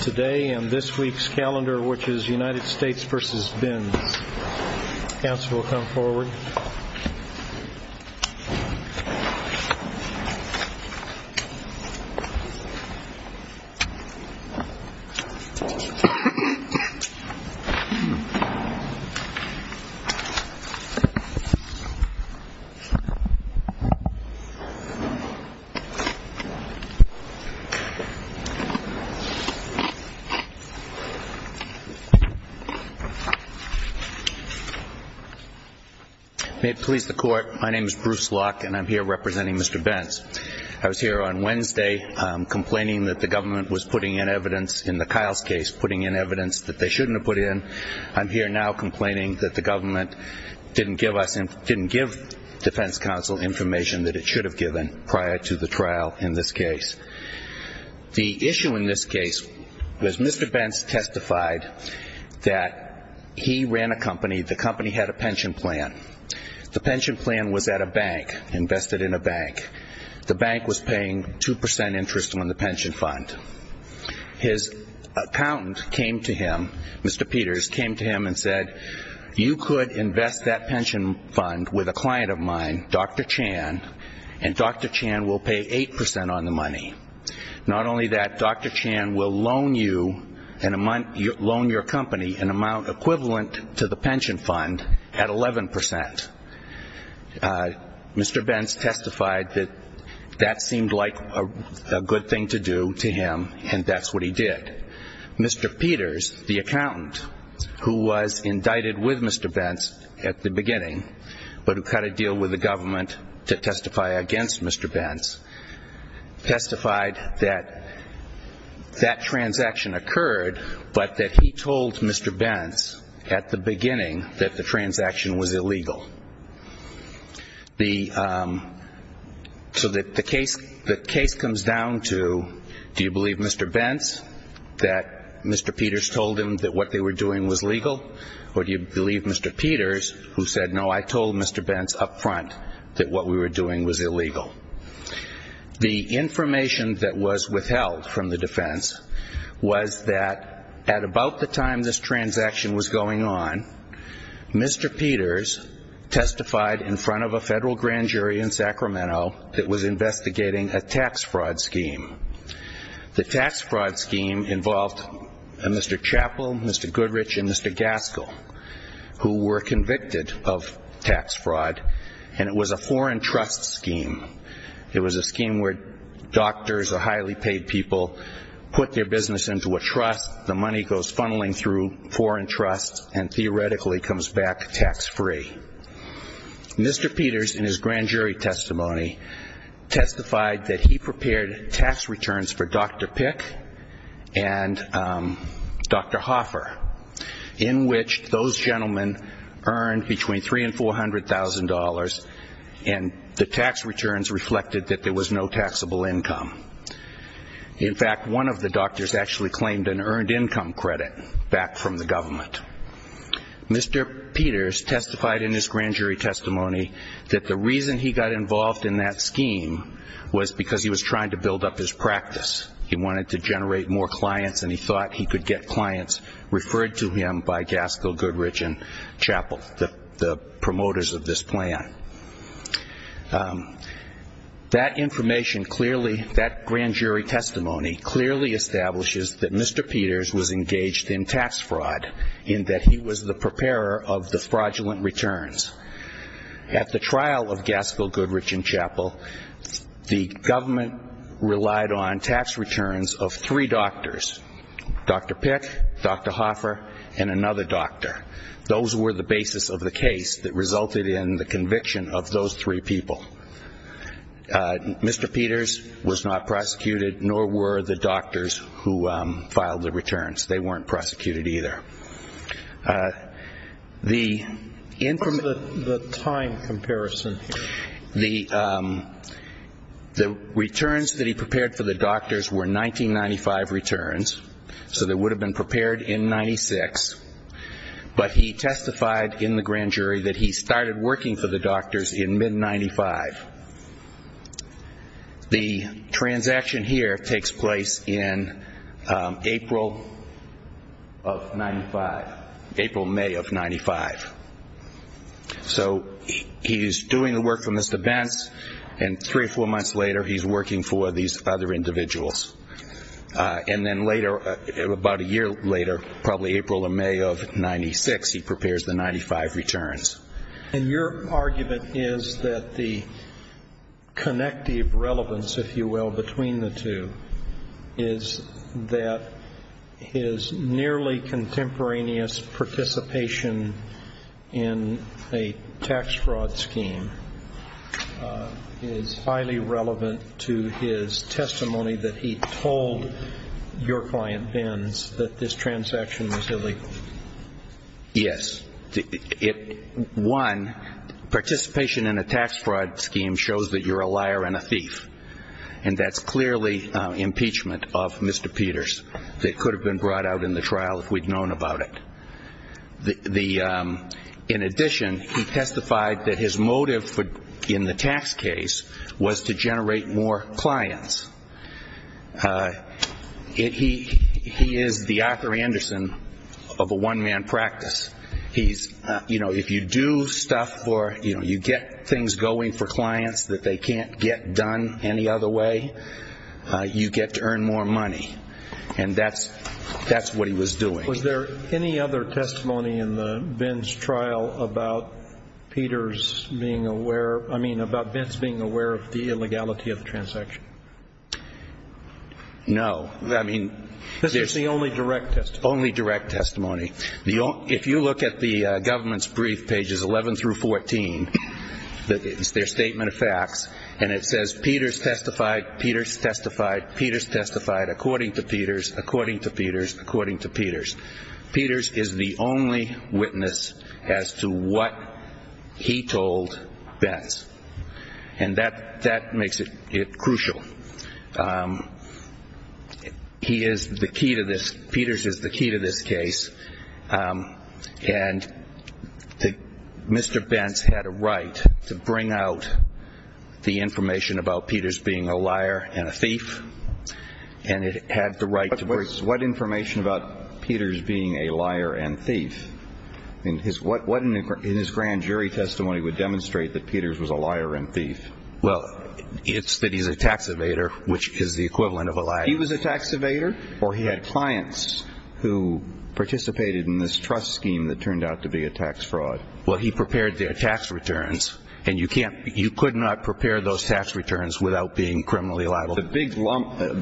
Today and this week's calendar which is United States v. Bentz. Counsel will come forward. May it please the court, my name is Bruce Locke and I'm here representing Mr. Bentz. I was here on Wednesday complaining that the government was putting in evidence in the Kiles case, putting in evidence that they shouldn't have put in. I'm here now complaining that the government didn't give us, didn't give defense counsel information that it should have given prior to the trial in this case. The issue in this case was Mr. Bentz testified that he ran a company. The company had a pension plan. The pension plan was at a bank, invested in a bank. The bank was paying 2% interest on the pension fund. His accountant came to him, Mr. Peters, came to him and said, you could invest that pension fund with a client of mine, Dr. Chan, and Dr. Chan will pay 8% on the money. Not only that, Dr. Chan will loan you, loan your company an amount equivalent to the pension fund at 11%. Mr. Bentz testified that that seemed like a good thing to do to him and that's what he did. Mr. Peters, the accountant, who was indicted with Mr. Bentz at the beginning but who had to deal with the government to testify against Mr. Bentz, testified that that transaction occurred, but that he told Mr. Bentz at the beginning that the transaction was illegal. So the case comes down to, do you believe Mr. Bentz, that Mr. Peters told him that what they were doing was legal, or do you believe Mr. Peters, who said, no, I told Mr. Bentz up front that what we were doing was illegal. The information that was withheld from the defense was that at about the time this transaction was going on, Mr. Peters testified in front of a federal grand jury in Sacramento that was investigating a tax fraud scheme. The tax fraud scheme involved Mr. Chappell, Mr. Goodrich, and Mr. Gaskell, who were convicted of tax fraud, and it was a foreign trust scheme. It was a scheme where doctors or highly paid people put their business into a trust, the money goes funneling through foreign trusts and theoretically comes back tax free. Mr. Peters, in his grand jury testimony, testified that he prepared tax returns for Dr. Pick and Dr. Hoffer, in which those gentlemen earned between $300,000 and $400,000, and the tax returns reflected that there was no taxable income. In fact, one of the doctors actually claimed an earned income credit back from the government. Mr. Peters testified in his grand jury testimony that the reason he got involved in that scheme was because he was trying to build up his practice. He wanted to generate more clients, and he thought he could get clients referred to him by Gaskell, Goodrich, and Chappell, the promoters of this plan. That information clearly, that grand jury testimony, clearly establishes that Mr. Peters was engaged in tax fraud, in that he was the preparer of the fraudulent returns. At the trial of Gaskell, Goodrich, and Chappell, the government relied on tax returns of three doctors, Dr. Pick, Dr. Hoffer, and another doctor. Those were the basis of the case that resulted in the conviction of those three people. Mr. Peters was not prosecuted, nor were the doctors who filed the returns. They weren't prosecuted either. What's the time comparison here? The returns that he prepared for the doctors were 1995 returns, so they would have been prepared in 1996, but he testified in the grand jury that he started working for the doctors in mid-1995. The transaction here takes place in April of 1995, April-May of 1995. So he's doing the work for Mr. Bentz, and three or four months later he's working for these other individuals. And then later, about a year later, probably April or May of 1996, he prepares the 1995 returns. And your argument is that the connective relevance, if you will, between the two, is that his nearly contemporaneous participation in a tax fraud scheme is highly relevant to his testimony that he told your client, Bentz, that this transaction was illegal. Yes. One, participation in a tax fraud scheme shows that you're a liar and a thief, and that's clearly impeachment of Mr. Peters. It could have been brought out in the trial if we'd known about it. In addition, he testified that his motive in the tax case was to generate more clients. He is the Arthur Anderson of a one-man practice. He's, you know, if you do stuff for, you know, you get things going for clients that they can't get done any other way, you get to earn more money. And that's what he was doing. Was there any other testimony in Bentz' trial about Peters being aware, I mean, about Bentz being aware of the illegality of the transaction? No. I mean, this is the only direct testimony. Only direct testimony. If you look at the government's brief, pages 11 through 14, it's their statement of facts, and it says Peters testified, Peters testified, Peters testified, according to Peters, according to Peters, according to Peters. Peters is the only witness as to what he told Bentz. And that makes it crucial. He is the key to this. Peters is the key to this case. And Mr. Bentz had a right to bring out the information about Peters being a liar and a thief, and it had the right to bring out the information about Peters being a liar and thief. What in his grand jury testimony would demonstrate that Peters was a liar and thief? Well, it's that he's a tax evader, which is the equivalent of a liar. He was a tax evader, or he had clients who participated in this trust scheme that turned out to be a tax fraud. Well, he prepared their tax returns, and you can't, you could not prepare those tax returns without being criminally liable. The big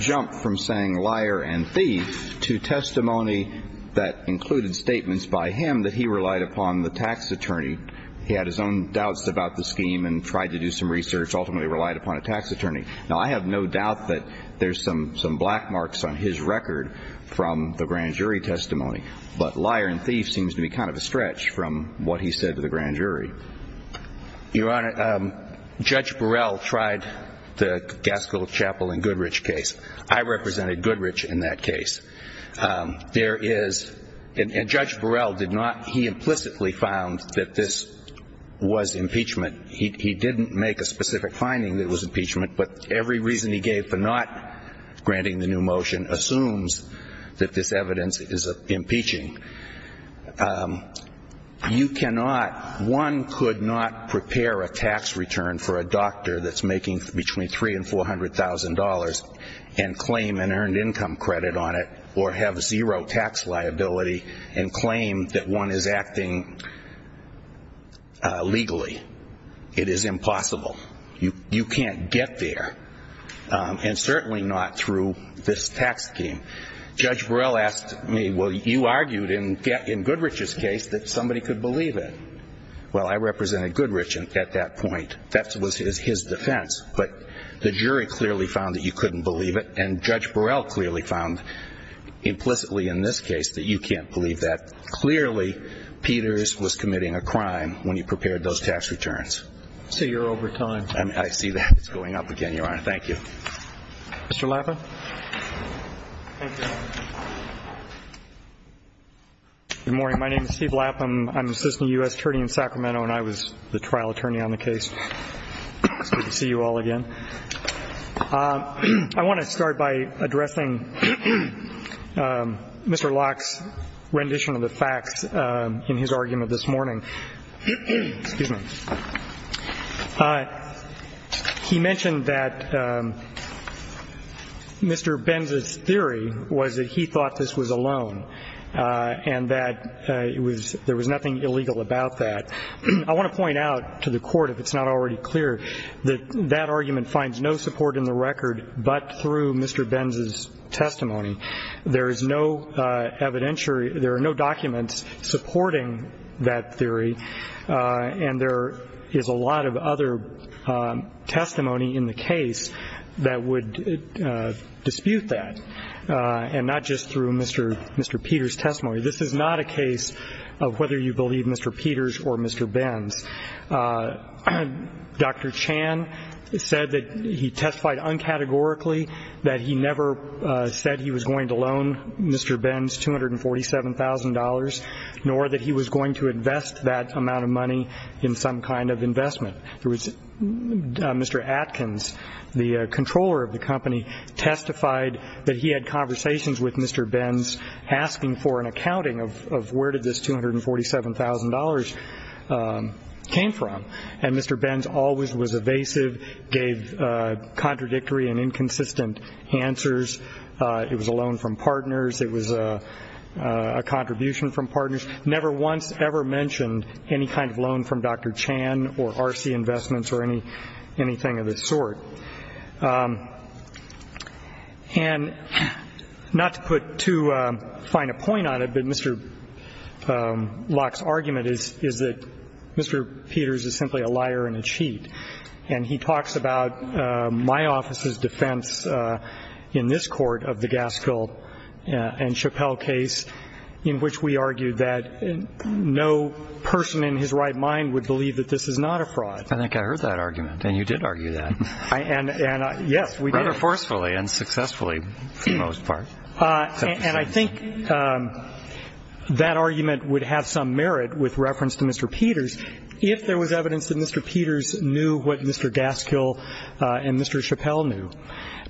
jump from saying liar and thief to testimony that included statements by him that he relied upon the tax attorney, he had his own doubts about the scheme and tried to do some research, ultimately relied upon a tax attorney. Now, I have no doubt that there's some black marks on his record from the grand jury testimony, but liar and thief seems to be kind of a stretch from what he said to the grand jury. Your Honor, Judge Burrell tried the Gaskell Chapel and Goodrich case. I represented Goodrich in that case. There is, and Judge Burrell did not, he implicitly found that this was impeachment. He didn't make a specific finding that it was impeachment, but every reason he gave for not granting the new motion assumes that this evidence is impeaching. You cannot, one could not prepare a tax return for a doctor that's making between $300,000 and $400,000 and claim an earned income credit on it or have zero tax liability and claim that one is acting legally. It is impossible. You can't get there, and certainly not through this tax scheme. Judge Burrell asked me, well, you argued in Goodrich's case that somebody could believe it. Well, I represented Goodrich at that point. That was his defense, but the jury clearly found that you couldn't believe it, and Judge Burrell clearly found implicitly in this case that you can't believe that. Clearly, Peters was committing a crime when you prepared those tax returns. I see you're over time. I see that. It's going up again, Your Honor. Thank you. Mr. Lapham. Thank you, Your Honor. Good morning. My name is Steve Lapham. I'm an assistant U.S. attorney in Sacramento, and I was the trial attorney on the case. It's good to see you all again. I want to start by addressing Mr. Locke's rendition of the facts in his argument this morning. Excuse me. He mentioned that Mr. Benz's theory was that he thought this was a loan and that there was nothing illegal about that. I want to point out to the Court, if it's not already clear, that that argument finds no support in the record but through Mr. Benz's testimony. There is no evidence or there are no documents supporting that theory, and there is a lot of other testimony in the case that would dispute that, and not just through Mr. Peters' testimony. This is not a case of whether you believe Mr. Peters or Mr. Benz. Dr. Chan said that he testified uncategorically, that he never said he was going to loan Mr. Benz $247,000, nor that he was going to invest that amount of money in some kind of investment. Mr. Atkins, the controller of the company, testified that he had conversations with Mr. Benz asking for an accounting of where did this $247,000 come from. And Mr. Benz always was evasive, gave contradictory and inconsistent answers. It was a loan from partners. It was a contribution from partners. Never once ever mentioned any kind of loan from Dr. Chan or RC Investments or anything of this sort. And not to put too fine a point on it, but Mr. Locke's argument is that Mr. Peters is simply a liar and a cheat. And he talks about my office's defense in this court of the Gaskell and Chappelle case, in which we argued that no person in his right mind would believe that this is not a fraud. I think I heard that argument, and you did argue that. Yes, we did. Rather forcefully and successfully for the most part. And I think that argument would have some merit with reference to Mr. Peters if there was evidence that Mr. Peters knew what Mr. Gaskell and Mr. Chappelle knew.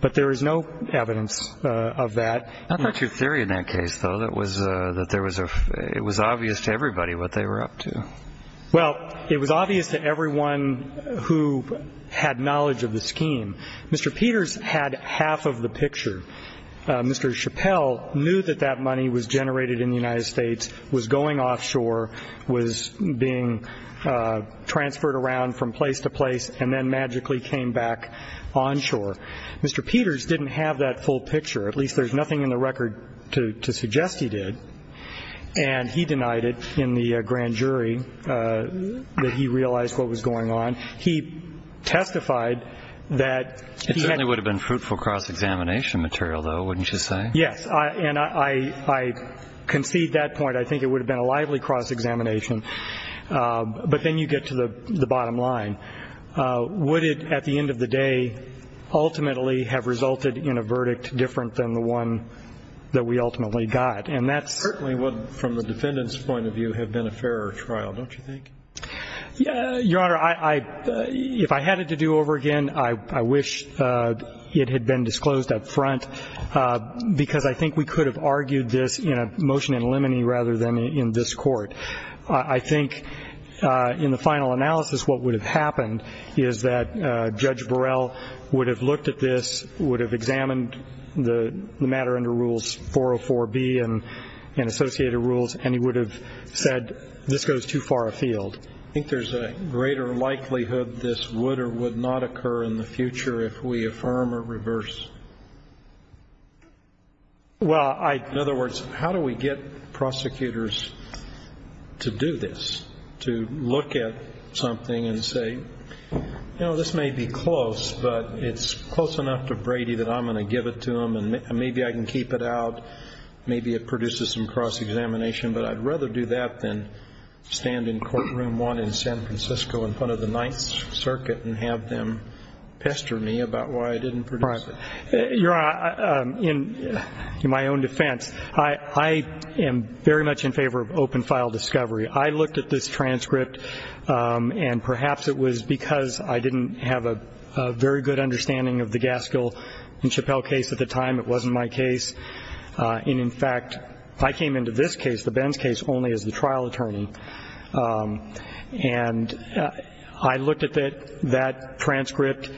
But there is no evidence of that. I thought your theory in that case, though, that it was obvious to everybody what they were up to. Well, it was obvious to everyone who had knowledge of the scheme. Mr. Peters had half of the picture. Mr. Chappelle knew that that money was generated in the United States, was going offshore, was being transferred around from place to place, and then magically came back onshore. Mr. Peters didn't have that full picture. At least there's nothing in the record to suggest he did. And he denied it in the grand jury that he realized what was going on. He testified that he had been- It certainly would have been fruitful cross-examination material, though, wouldn't you say? Yes. And I concede that point. I think it would have been a lively cross-examination. But then you get to the bottom line. Would it, at the end of the day, ultimately have resulted in a verdict different than the one that we ultimately got? And that's- It certainly would, from the defendant's point of view, have been a fairer trial, don't you think? Your Honor, if I had it to do over again, I wish it had been disclosed up front, because I think we could have argued this in a motion in limine rather than in this court. I think in the final analysis what would have happened is that Judge Burrell would have looked at this, would have examined the matter under Rules 404B and associated rules, and he would have said this goes too far afield. I think there's a greater likelihood this would or would not occur in the future if we affirm or reverse. Well, I- In other words, how do we get prosecutors to do this, to look at something and say, you know, this may be close, but it's close enough to Brady that I'm going to give it to him, and maybe I can keep it out, maybe it produces some cross-examination, but I'd rather do that than stand in courtroom one in San Francisco in front of the Ninth Circuit and have them pester me about why I didn't produce it. Your Honor, in my own defense, I am very much in favor of open-file discovery. I looked at this transcript, and perhaps it was because I didn't have a very good understanding of the Gaskell and Chappelle case at the time, it wasn't my case. And in fact, I came into this case, the Benz case, only as the trial attorney. And I looked at that transcript.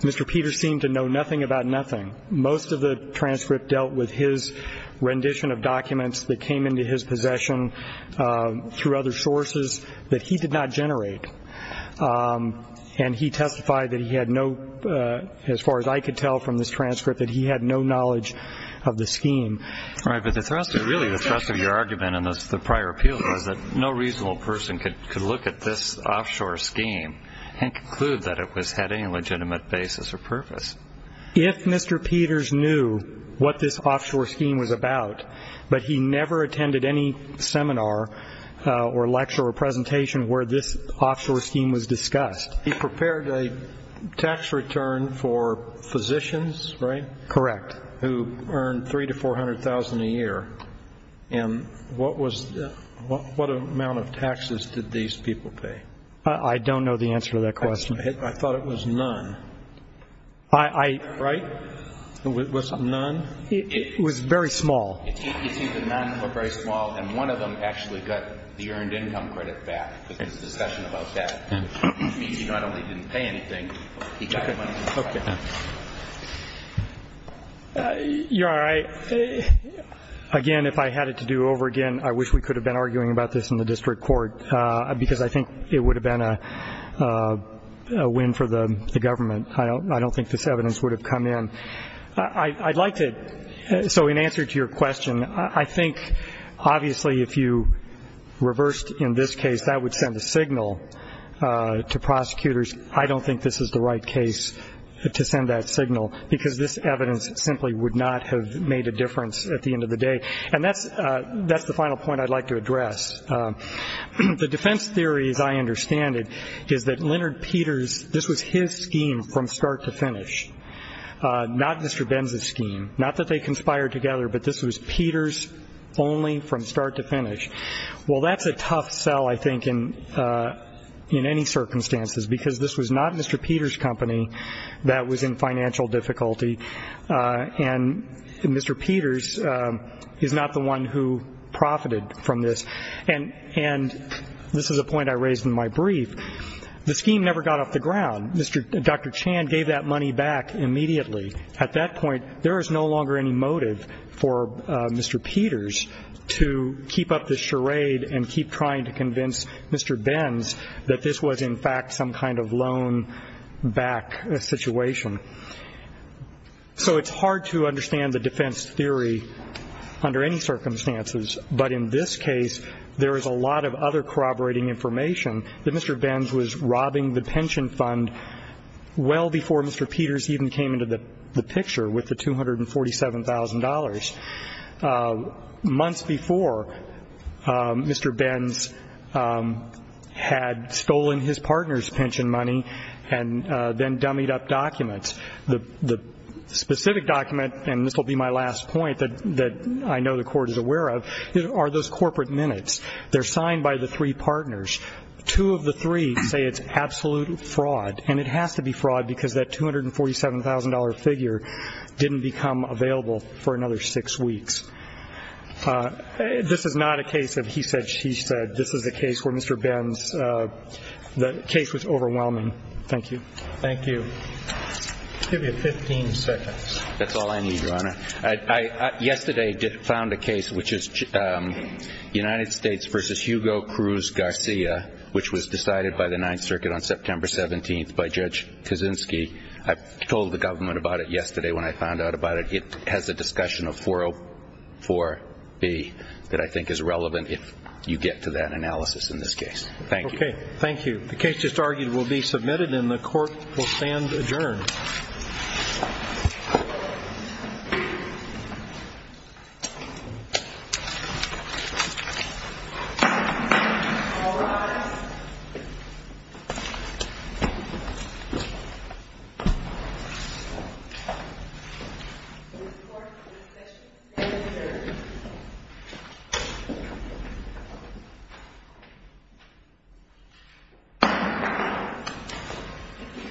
Mr. Peters seemed to know nothing about nothing. Most of the transcript dealt with his rendition of documents that came into his possession through other sources that he did not generate. And he testified that he had no, as far as I could tell from this transcript, that he had no knowledge of the scheme. All right, but really the thrust of your argument in the prior appeal was that no reasonable person could look at this offshore scheme and conclude that it had any legitimate basis or purpose. If Mr. Peters knew what this offshore scheme was about, but he never attended any seminar or lecture or presentation where this offshore scheme was discussed. He prepared a tax return for physicians, right? Correct. Who earned $300,000 to $400,000 a year. And what amount of taxes did these people pay? I don't know the answer to that question. I thought it was none. Right? It was none? It was very small. It seemed to none, but very small. And one of them actually got the earned income credit back with his discussion about that. It means he not only didn't pay anything, he got money back. Okay. You're all right. Again, if I had it to do over again, I wish we could have been arguing about this in the district court because I think it would have been a win for the government. I don't think this evidence would have come in. I'd like to, so in answer to your question, I think obviously if you reversed in this case, that would send a signal to prosecutors, I don't think this is the right case to send that signal because this evidence simply would not have made a difference at the end of the day. And that's the final point I'd like to address. The defense theory, as I understand it, is that Leonard Peters, this was his scheme from start to finish, not Mr. Benz's scheme, not that they conspired together, but this was Peters only from start to finish. Well, that's a tough sell, I think, in any circumstances because this was not Mr. Peters' company that was in financial difficulty, and Mr. Peters is not the one who profited from this. And this is a point I raised in my brief. The scheme never got off the ground. Dr. Chan gave that money back immediately. At that point, there is no longer any motive for Mr. Peters to keep up this charade and keep trying to convince Mr. Benz that this was in fact some kind of loan-back situation. So it's hard to understand the defense theory under any circumstances, but in this case there is a lot of other corroborating information that Mr. Benz was robbing the pension fund well before Mr. Peters even came into the picture with the $247,000, months before Mr. Benz had stolen his partner's pension money and then dummied up documents. The specific document, and this will be my last point that I know the Court is aware of, are those corporate minutes. They're signed by the three partners. Two of the three say it's absolute fraud, and it has to be fraud because that $247,000 figure didn't become available for another six weeks. This is not a case of he said, she said. This is a case where Mr. Benz's case was overwhelming. Thank you. Thank you. Give me 15 seconds. That's all I need, Your Honor. Yesterday I found a case which is United States v. Hugo Cruz Garcia, which was decided by the Ninth Circuit on September 17th by Judge Kaczynski. I told the government about it yesterday when I found out about it. It has a discussion of 404B that I think is relevant if you get to that analysis in this case. Thank you. Okay, thank you. The case just argued will be submitted, and the Court will stand adjourned. Thank you.